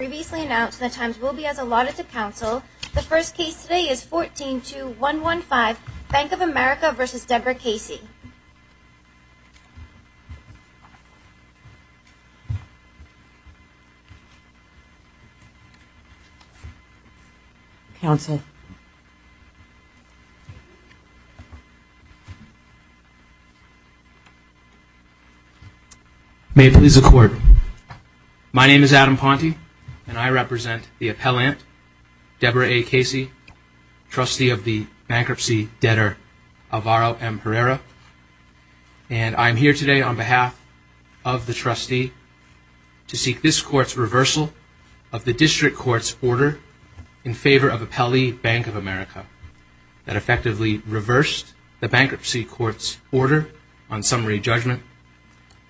As previously announced, the times will be as allotted to counsel. The first case today is 14-2-115, Bank of America v. Deborah Casey. Counsel. May it please the Court. My name is Adam Ponte, and I represent the appellant, Deborah A. Casey, trustee of the bankruptcy debtor Alvaro M. Herrera. And I'm here today on behalf of the trustee to seek this Court's reversal of the district court's order in favor of Appellee Bank of America that effectively reversed the bankruptcy court's order on summary judgment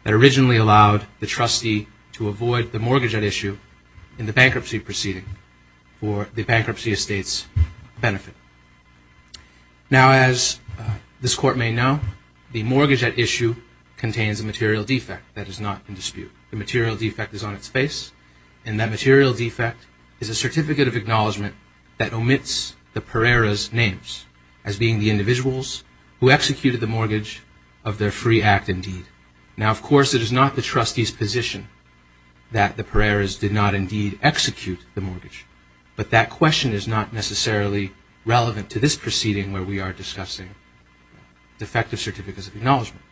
that originally allowed the trustee to avoid the mortgage at issue in the bankruptcy proceeding for the bankruptcy estate's benefit. Now, as this Court may know, the mortgage at issue contains a material defect that is not in dispute. The material defect is on its face, and that material defect is a certificate of acknowledgement that omits the Herrera's names as being the individuals who executed the mortgage of their free act and deed. Now, of course, it is not the trustee's position that the Herrera's did not indeed execute the mortgage, but that question is not necessarily relevant to this proceeding where we are discussing defective certificates of acknowledgement.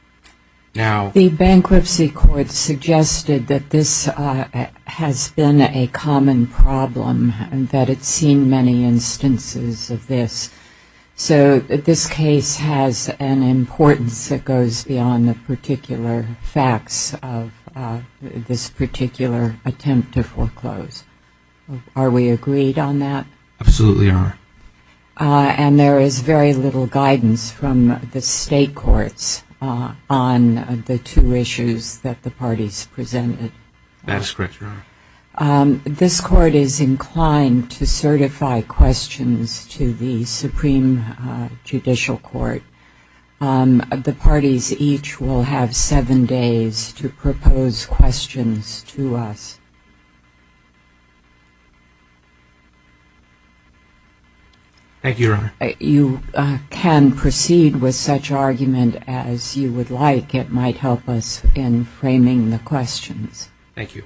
Now, the bankruptcy court suggested that this has been a common problem and that it's seen many instances of this. So this case has an importance that goes beyond the particular facts of this particular attempt to foreclose. Are we agreed on that? Absolutely, Your Honor. And there is very little guidance from the state courts on the two issues that the parties presented? That is correct, Your Honor. This Court is inclined to certify questions to the Supreme Judicial Court. The parties each will have seven days to propose questions to us. Thank you, Your Honor. You can proceed with such argument as you would like. It might help us in framing the questions. Thank you.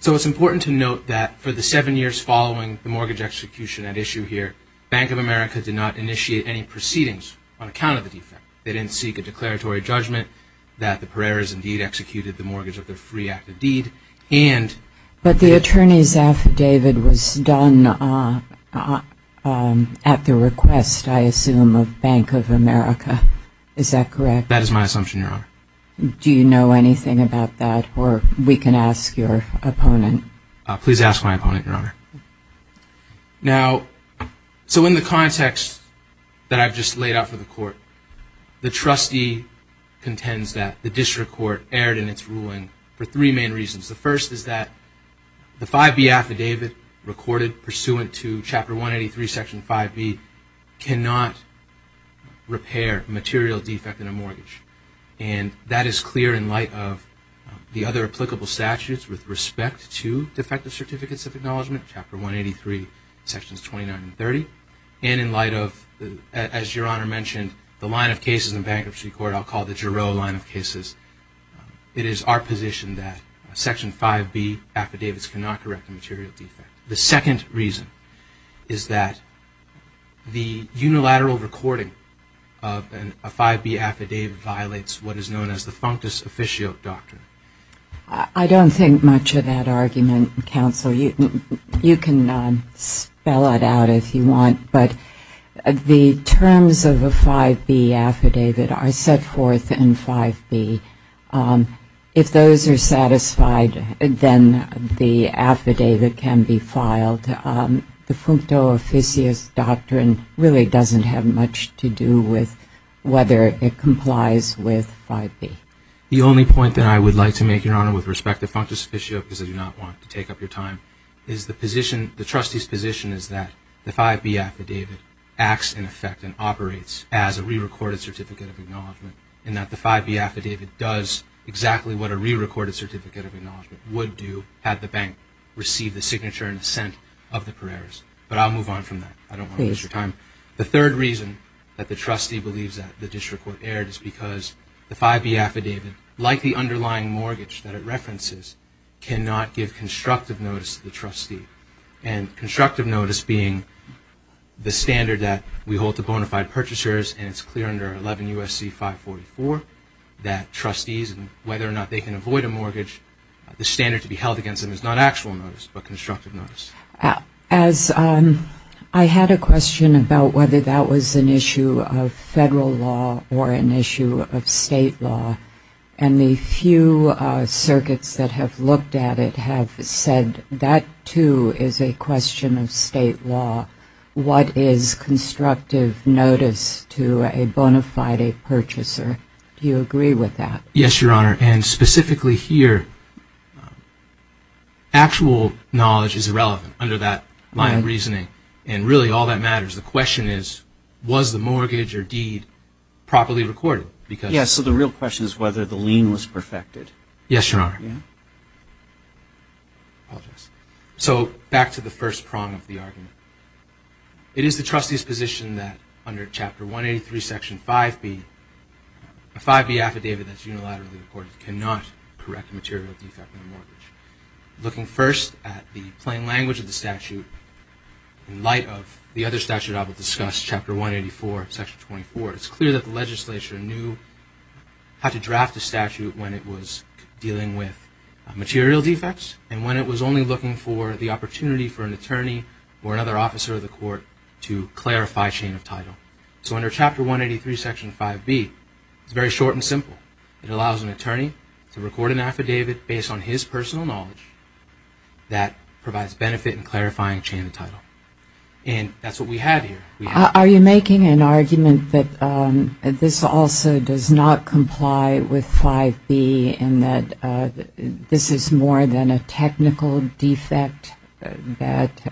So it's important to note that for the seven years following the mortgage execution at issue here, Bank of America did not initiate any proceedings on account of the defect. They didn't seek a declaratory judgment that the Herrera's indeed executed the mortgage of their free act and deed. But the attorney's affidavit was done at the request, I assume, of Bank of America. That is my assumption, Your Honor. Do you know anything about that? Or we can ask your opponent. Please ask my opponent, Your Honor. Now, so in the context that I've just laid out for the Court, the trustee contends that the district court erred in its ruling for three main reasons. The first is that the 5B affidavit recorded pursuant to Chapter 183, Section 5B, cannot repair a material defect in a mortgage. And that is clear in light of the other applicable statutes with respect to Defective Certificates of Acknowledgement, Chapter 183, Sections 29 and 30. And in light of, as Your Honor mentioned, the line of cases in bankruptcy court, I'll call it the Giroux line of cases. It is our position that Section 5B affidavits cannot correct a material defect. The second reason is that the unilateral recording of a 5B affidavit violates what is known as the functus officio doctrine. I don't think much of that argument, Counsel. You can spell it out if you want. But the terms of a 5B affidavit are set forth in 5B. If those are satisfied, then the affidavit can be filed. The functus officio doctrine really doesn't have much to do with whether it complies with 5B. The only point that I would like to make, Your Honor, with respect to functus officio, because I do not want to take up your time, is the position, the trustee's position, is that the 5B affidavit acts in effect and operates as a re-recorded certificate of acknowledgment and that the 5B affidavit does exactly what a re-recorded certificate of acknowledgment would do had the bank received the signature and assent of the pereres. But I'll move on from that. I don't want to waste your time. The third reason that the trustee believes that the disreport erred is because the 5B affidavit, like the underlying mortgage that it references, cannot give constructive notice to the trustee. And constructive notice being the standard that we hold to bona fide purchasers and it's clear under 11 U.S.C. 544 that trustees, whether or not they can avoid a mortgage, the standard to be held against them is not actual notice but constructive notice. As I had a question about whether that was an issue of federal law or an issue of state law, and the few circuits that have looked at it have said that, too, is a question of state law. What is constructive notice to a bona fide purchaser? Do you agree with that? Yes, Your Honor. And specifically here, actual knowledge is irrelevant under that line of reasoning. And really all that matters, the question is, was the mortgage or deed properly recorded? Yes, so the real question is whether the lien was perfected. Yes, Your Honor. Apologize. So back to the first prong of the argument. It is the trustee's position that under Chapter 183, Section 5B, a 5B affidavit that's unilaterally recorded cannot correct a material defect in a mortgage. Looking first at the plain language of the statute, in light of the other statute I will discuss, Chapter 184, Section 24, it's clear that the legislature knew how to draft the statute when it was dealing with material defects and when it was only looking for the opportunity for an attorney or another officer of the court to clarify chain of title. So under Chapter 183, Section 5B, it's very short and simple. It allows an attorney to record an affidavit based on his personal knowledge that provides benefit in clarifying chain of title. And that's what we have here. Are you making an argument that this also does not comply with 5B and that this is more than a technical defect that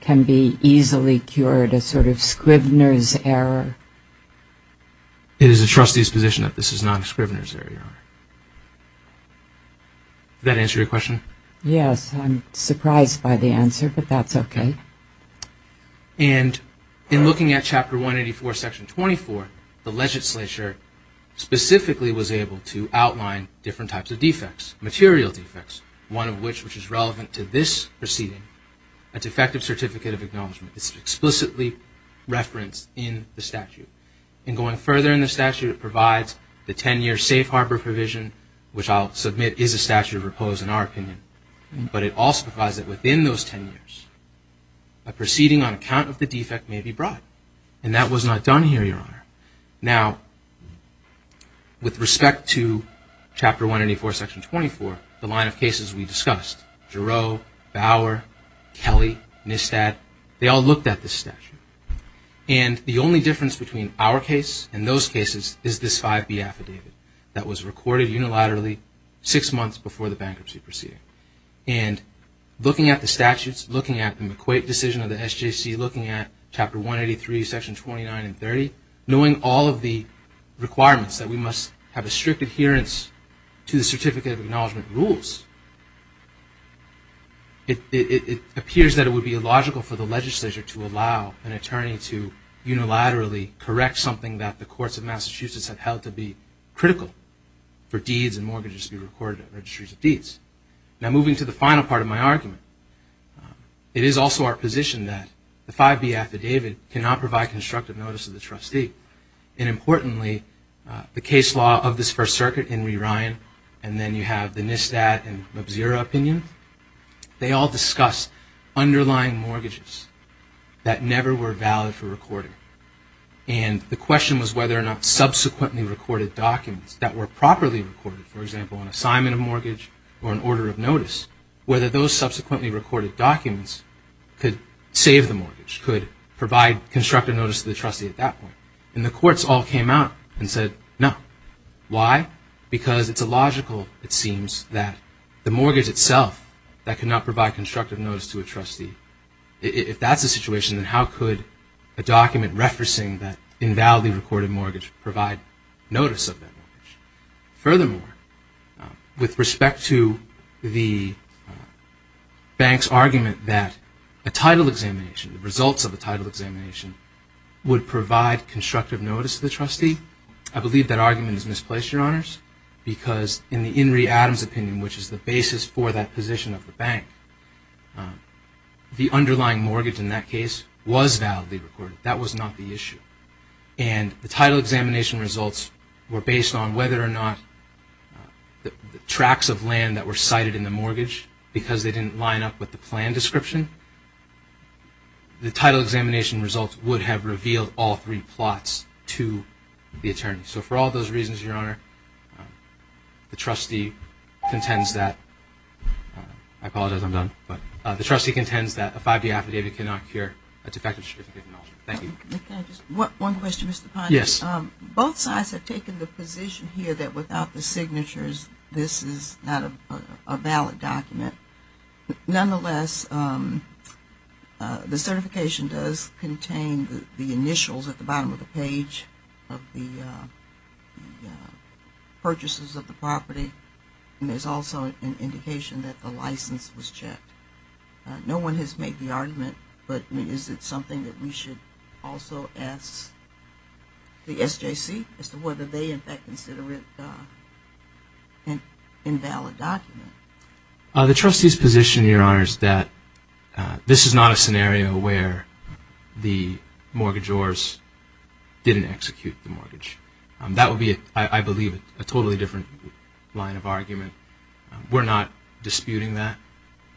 can be easily cured, a sort of Scrivener's error? It is the trustee's position that this is not a Scrivener's error, Your Honor. Does that answer your question? Yes, I'm surprised by the answer, but that's okay. And in looking at Chapter 184, Section 24, the legislature specifically was able to outline different types of defects, material defects, one of which is relevant to this proceeding, a Defective Certificate of Acknowledgement. It's explicitly referenced in the statute. And going further in the statute, it provides the 10-year safe harbor provision, which I'll submit is a statute of repose in our opinion. But it also provides that within those 10 years, a proceeding on account of the defect may be brought. And that was not done here, Your Honor. Now, with respect to Chapter 184, Section 24, the line of cases we discussed, Giroux, Bauer, Kelly, Nistad, they all looked at this statute. And the only difference between our case and those cases is this 5B affidavit that was recorded unilaterally six months before the bankruptcy proceeding. And looking at the statutes, looking at the McQuaid decision of the SJC, looking at Chapter 183, Sections 29 and 30, knowing all of the requirements that we must have a strict adherence to the Certificate of Acknowledgement rules, it appears that it would be illogical for the legislature to allow an attorney to unilaterally correct something that the courts of Massachusetts have held to be critical for deeds and mortgages to be recorded at Registries of Deeds. Now, moving to the final part of my argument, it is also our position that the 5B affidavit cannot provide constructive notice to the trustee. And importantly, the case law of this First Circuit, Henry Ryan, and then you have the Nistad and Mubzira opinions, they all discuss underlying mortgages that never were valid for recording. And the question was whether or not subsequently recorded documents that were properly recorded, for example, an assignment of mortgage or an order of notice, whether those subsequently recorded documents could save the mortgage, could provide constructive notice to the trustee at that point. And the courts all came out and said, no. Why? Because it's illogical, it seems, that the mortgage itself that cannot provide constructive notice to a trustee, if that's the situation, then how could a document referencing that invalidly recorded mortgage provide notice of that mortgage? Furthermore, with respect to the bank's argument that a title examination, the results of a title examination, would provide constructive notice to the trustee, I believe that argument is misplaced, Your Honors, because in the In re. Adams opinion, which is the basis for that position of the bank, the underlying mortgage in that case was validly recorded. That was not the issue. And the title examination results were based on whether or not the tracks of land that were cited in the mortgage, because they didn't line up with the plan description, the title examination results would have revealed all three plots to the attorney. So for all those reasons, Your Honor, the trustee contends that, I apologize, I'm done, but the trustee contends that a 5-D affidavit cannot cure a defective certificate of knowledge. Thank you. One question, Mr. Pine. Yes. Both sides have taken the position here that without the signatures, this is not a valid document. Nonetheless, the certification does contain the initials at the bottom of the page of the purchases of the property, and there's also an indication that the license was checked. No one has made the argument, but is it something that we should also ask the SJC as to whether they, in fact, consider it an invalid document? The trustee's position, Your Honor, is that this is not a scenario where the mortgagors didn't execute the mortgage. That would be, I believe, a totally different line of argument. We're not disputing that.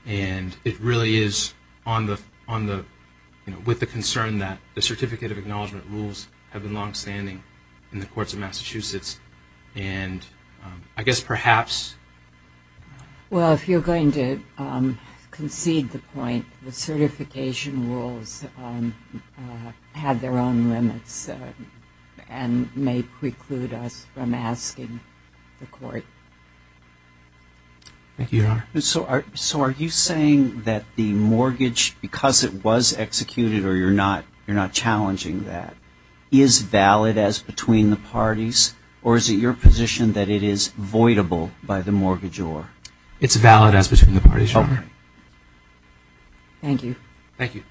And it really is with the concern that the certificate of acknowledgement rules have been longstanding in the courts of Massachusetts, and I guess perhaps. Well, if you're going to concede the point, the certification rules have their own limits and may preclude us from asking the court. Thank you, Your Honor. So are you saying that the mortgage, because it was executed or you're not challenging that, is valid as between the parties, or is it your position that it is voidable by the mortgagor? It's valid as between the parties, Your Honor. Thank you. Thank you.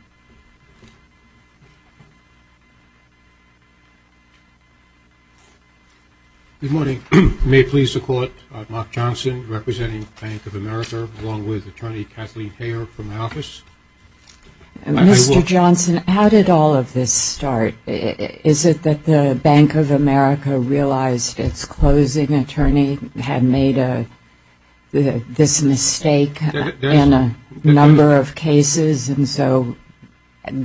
Good morning. May it please the Court, Mark Johnson, representing Bank of America, along with Attorney Kathleen Hayer from my office. Mr. Johnson, how did all of this start? Is it that the Bank of America realized its closing attorney had made this mistake in a number of cases and so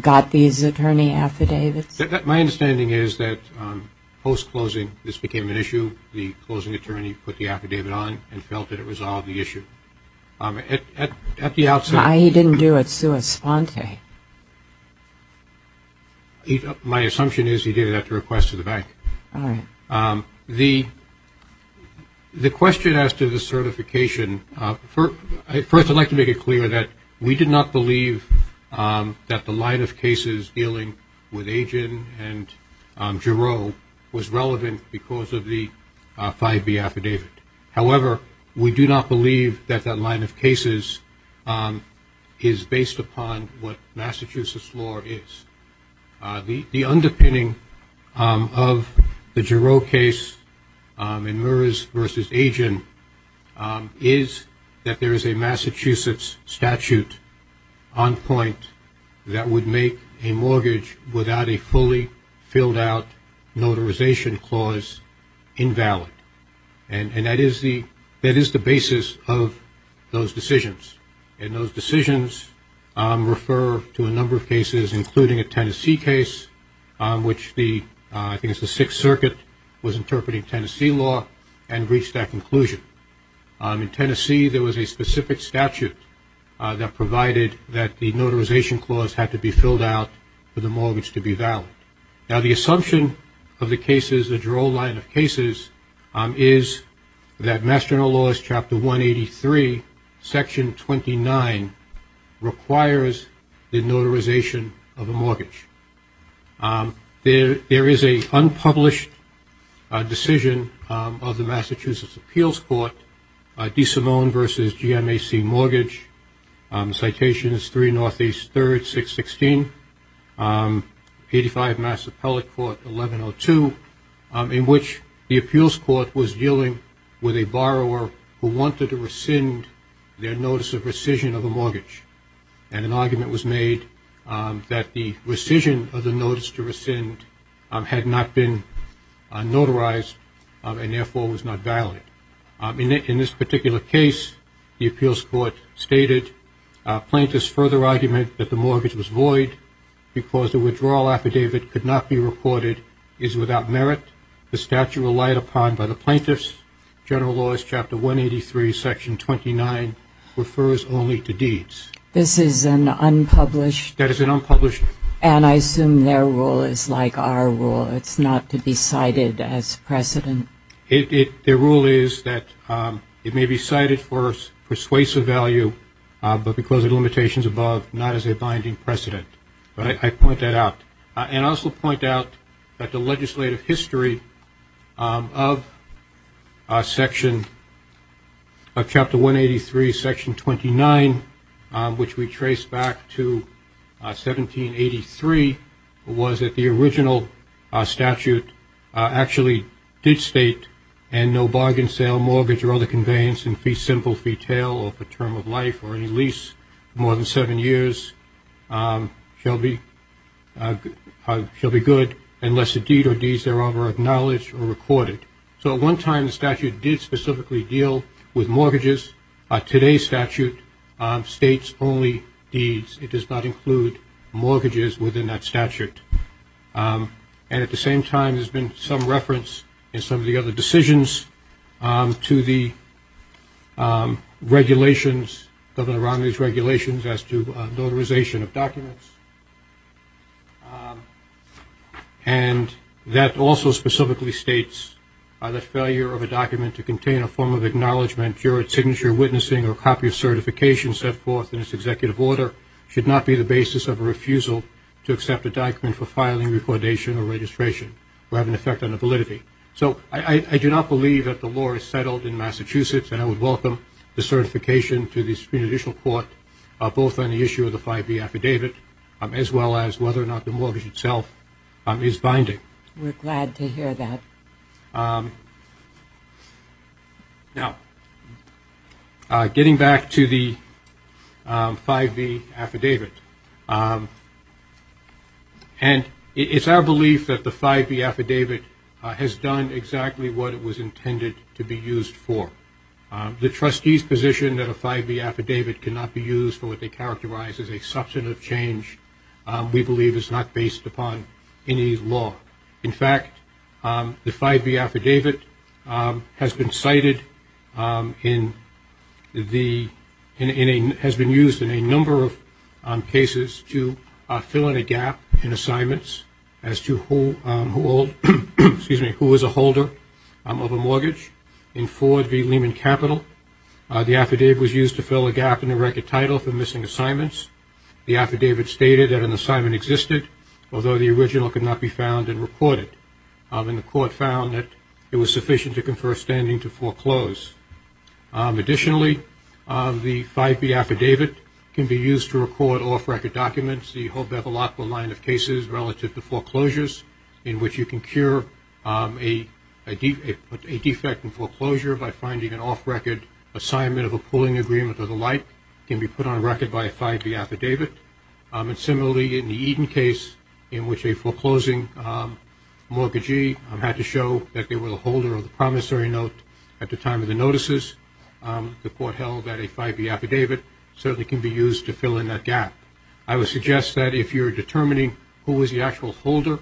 got these attorney affidavits? My understanding is that post-closing this became an issue. The closing attorney put the affidavit on and felt that it resolved the issue. At the outset he didn't do it sui sponte. Okay. My assumption is he did it at the request of the bank. All right. The question as to the certification, first I'd like to make it clear that we did not believe that the line of cases dealing with Agin and Giroux was relevant because of the 5B affidavit. However, we do not believe that that line of cases is based upon what Massachusetts law is. The underpinning of the Giroux case in Meurs v. Agin is that there is a Massachusetts statute on point that would make a mortgage without a fully filled out notarization clause invalid. And that is the basis of those decisions. And those decisions refer to a number of cases, including a Tennessee case, which the I think it's the Sixth Circuit was interpreting Tennessee law and reached that conclusion. In Tennessee there was a specific statute that provided that the notarization clause had to be filled out for the mortgage to be valid. Now, the assumption of the cases, the Giroux line of cases, is that Master in the Laws, Chapter 183, Section 29, requires the notarization of a mortgage. There is an unpublished decision of the Massachusetts Appeals Court, DeSimone v. GMAC Mortgage, citation is 3 Northeast 3rd 616, 85 Mass Appellate Court 1102, in which the appeals court was dealing with a borrower who wanted to rescind their notice of rescission of a mortgage. And an argument was made that the rescission of the notice to rescind had not been notarized and therefore was not valid. In this particular case, the appeals court stated plaintiff's further argument that the mortgage was void because the withdrawal affidavit could not be recorded is without merit. The statute relied upon by the plaintiffs, General Laws, Chapter 183, Section 29, refers only to deeds. This is an unpublished. That is an unpublished. And I assume their rule is like our rule. It's not to be cited as precedent. Their rule is that it may be cited for persuasive value, but because of limitations above, not as a binding precedent. But I point that out and also point out that the legislative history of Section of Chapter 183, Section 29, which we trace back to 1783, was that the original statute actually did state, and no bargain sale, mortgage, or other conveyance in fee simple, fee tail, or for term of life or any lease more than seven years shall be good unless a deed or deeds thereof are acknowledged or recorded. So at one time the statute did specifically deal with mortgages. Today's statute states only deeds. It does not include mortgages within that statute. And at the same time there's been some reference in some of the other decisions to the regulations, Governor Romney's regulations as to notarization of documents. And that also specifically states that failure of a document to contain a form of acknowledgement, juried signature, witnessing, or copy of certification set forth in its executive order, should not be the basis of a refusal to accept a document for filing, recordation, or registration, or have an effect on validity. So I do not believe that the law is settled in Massachusetts, and I would welcome the certification to the Supreme Judicial Court, both on the issue of the 5B affidavit, as well as whether or not the mortgage itself is binding. We're glad to hear that. Now, getting back to the 5B affidavit, and it's our belief that the 5B affidavit has done exactly what it was intended to be used for. The trustee's position that a 5B affidavit cannot be used for what they characterize as a substantive change, we believe is not based upon any law. In fact, the 5B affidavit has been cited in the, has been used in a number of cases to fill in a gap in assignments as to who is a holder of a mortgage. In Ford v. Lehman Capital, the affidavit was used to fill a gap in the record title for missing assignments. The affidavit stated that an assignment existed, although the original could not be found and recorded, and the court found that it was sufficient to confer a standing to foreclose. Additionally, the 5B affidavit can be used to record off-record documents, the whole Bevilacqua line of cases relative to foreclosures, in which you can cure a defect in foreclosure by finding an off-record assignment of a pooling agreement or the like can be put on record by a 5B affidavit. And similarly, in the Eden case, in which a foreclosing mortgagee had to show that they were the holder of the promissory note at the time of the notices, the court held that a 5B affidavit certainly can be used to fill in that gap. I would suggest that if you're determining who is the actual holder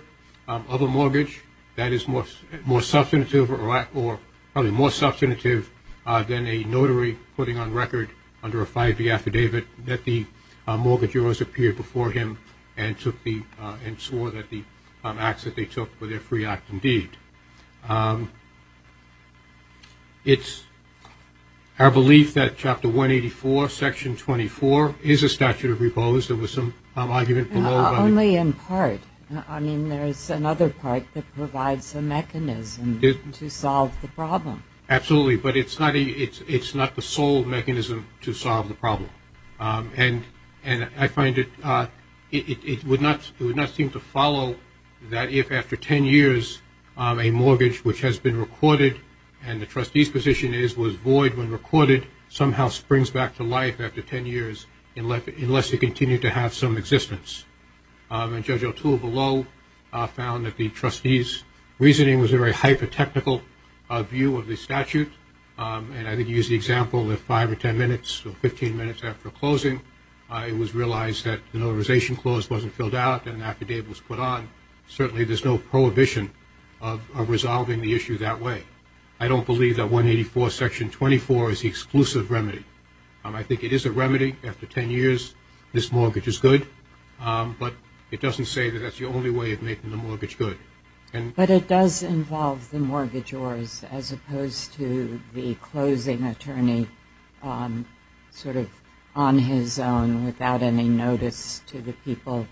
of a mortgage, that is more substantive or probably more substantive than a notary putting on record under a 5B affidavit that the mortgagor has appeared before him and swore that the acts that they took were their free act indeed. It's our belief that Chapter 184, Section 24 is a statute of repose. There was some argument below. Only in part. I mean, there's another part that provides a mechanism to solve the problem. Absolutely. And I find it would not seem to follow that if after 10 years a mortgage which has been recorded and the trustee's position is was void when recorded, somehow springs back to life after 10 years unless you continue to have some existence. And Judge O'Toole below found that the trustee's reasoning was a very hyper-technical view of the statute. And I think he used the example that five or ten minutes or 15 minutes after closing, it was realized that the Notarization Clause wasn't filled out and an affidavit was put on. Certainly there's no prohibition of resolving the issue that way. I don't believe that 184, Section 24 is the exclusive remedy. I think it is a remedy. After 10 years, this mortgage is good. But it doesn't say that that's the only way of making the mortgage good. But it does involve the mortgagors as opposed to the closing attorney sort of on his own without any notice to the people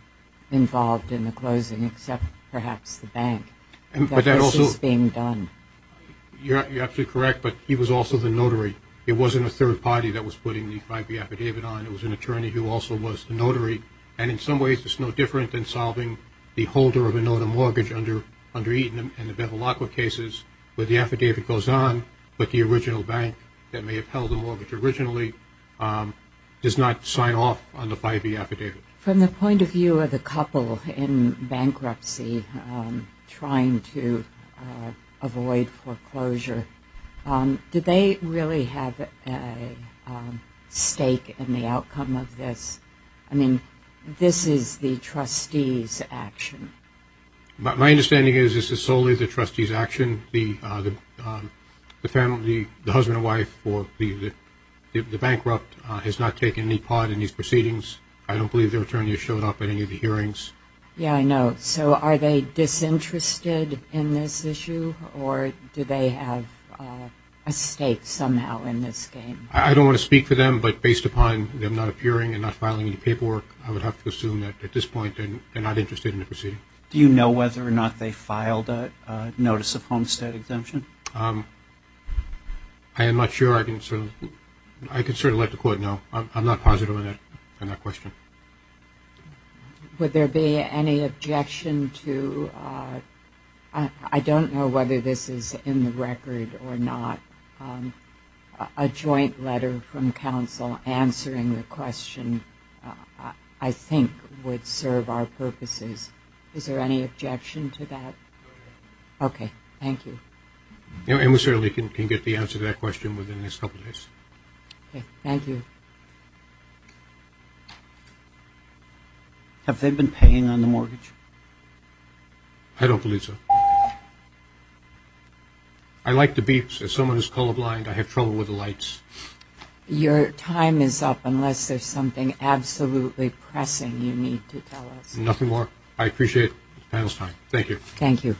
involved in the closing except perhaps the bank. But that also is being done. You're absolutely correct, but he was also the notary. It wasn't a third party that was putting the 5B affidavit on. It was an attorney who also was the notary. And in some ways it's no different than solving the holder of a notary mortgage under Eaton and the Benelacqua cases where the affidavit goes on, but the original bank that may have held the mortgage originally does not sign off on the 5B affidavit. From the point of view of the couple in bankruptcy trying to avoid foreclosure, did they really have a stake in the outcome of this? I mean, this is the trustee's action. My understanding is this is solely the trustee's action. The family, the husband and wife for the bankrupt has not taken any part in these proceedings. I don't believe their attorney has showed up at any of the hearings. Yeah, I know. So are they disinterested in this issue or do they have a stake somehow in this game? I don't want to speak for them, but based upon them not appearing and not filing any paperwork, I would have to assume that at this point they're not interested in the proceeding. Do you know whether or not they filed a notice of homestead exemption? I am not sure. I can certainly let the court know. I'm not positive on that question. Would there be any objection to ‑‑ answering the question I think would serve our purposes? Is there any objection to that? Okay, thank you. And we certainly can get the answer to that question within the next couple of days. Okay, thank you. Have they been paying on the mortgage? I don't believe so. I like the beeps. As someone who's colorblind, I have trouble with the lights. Your time is up unless there's something absolutely pressing you need to tell us. Nothing more. I appreciate the panel's time. Thank you. Thank you.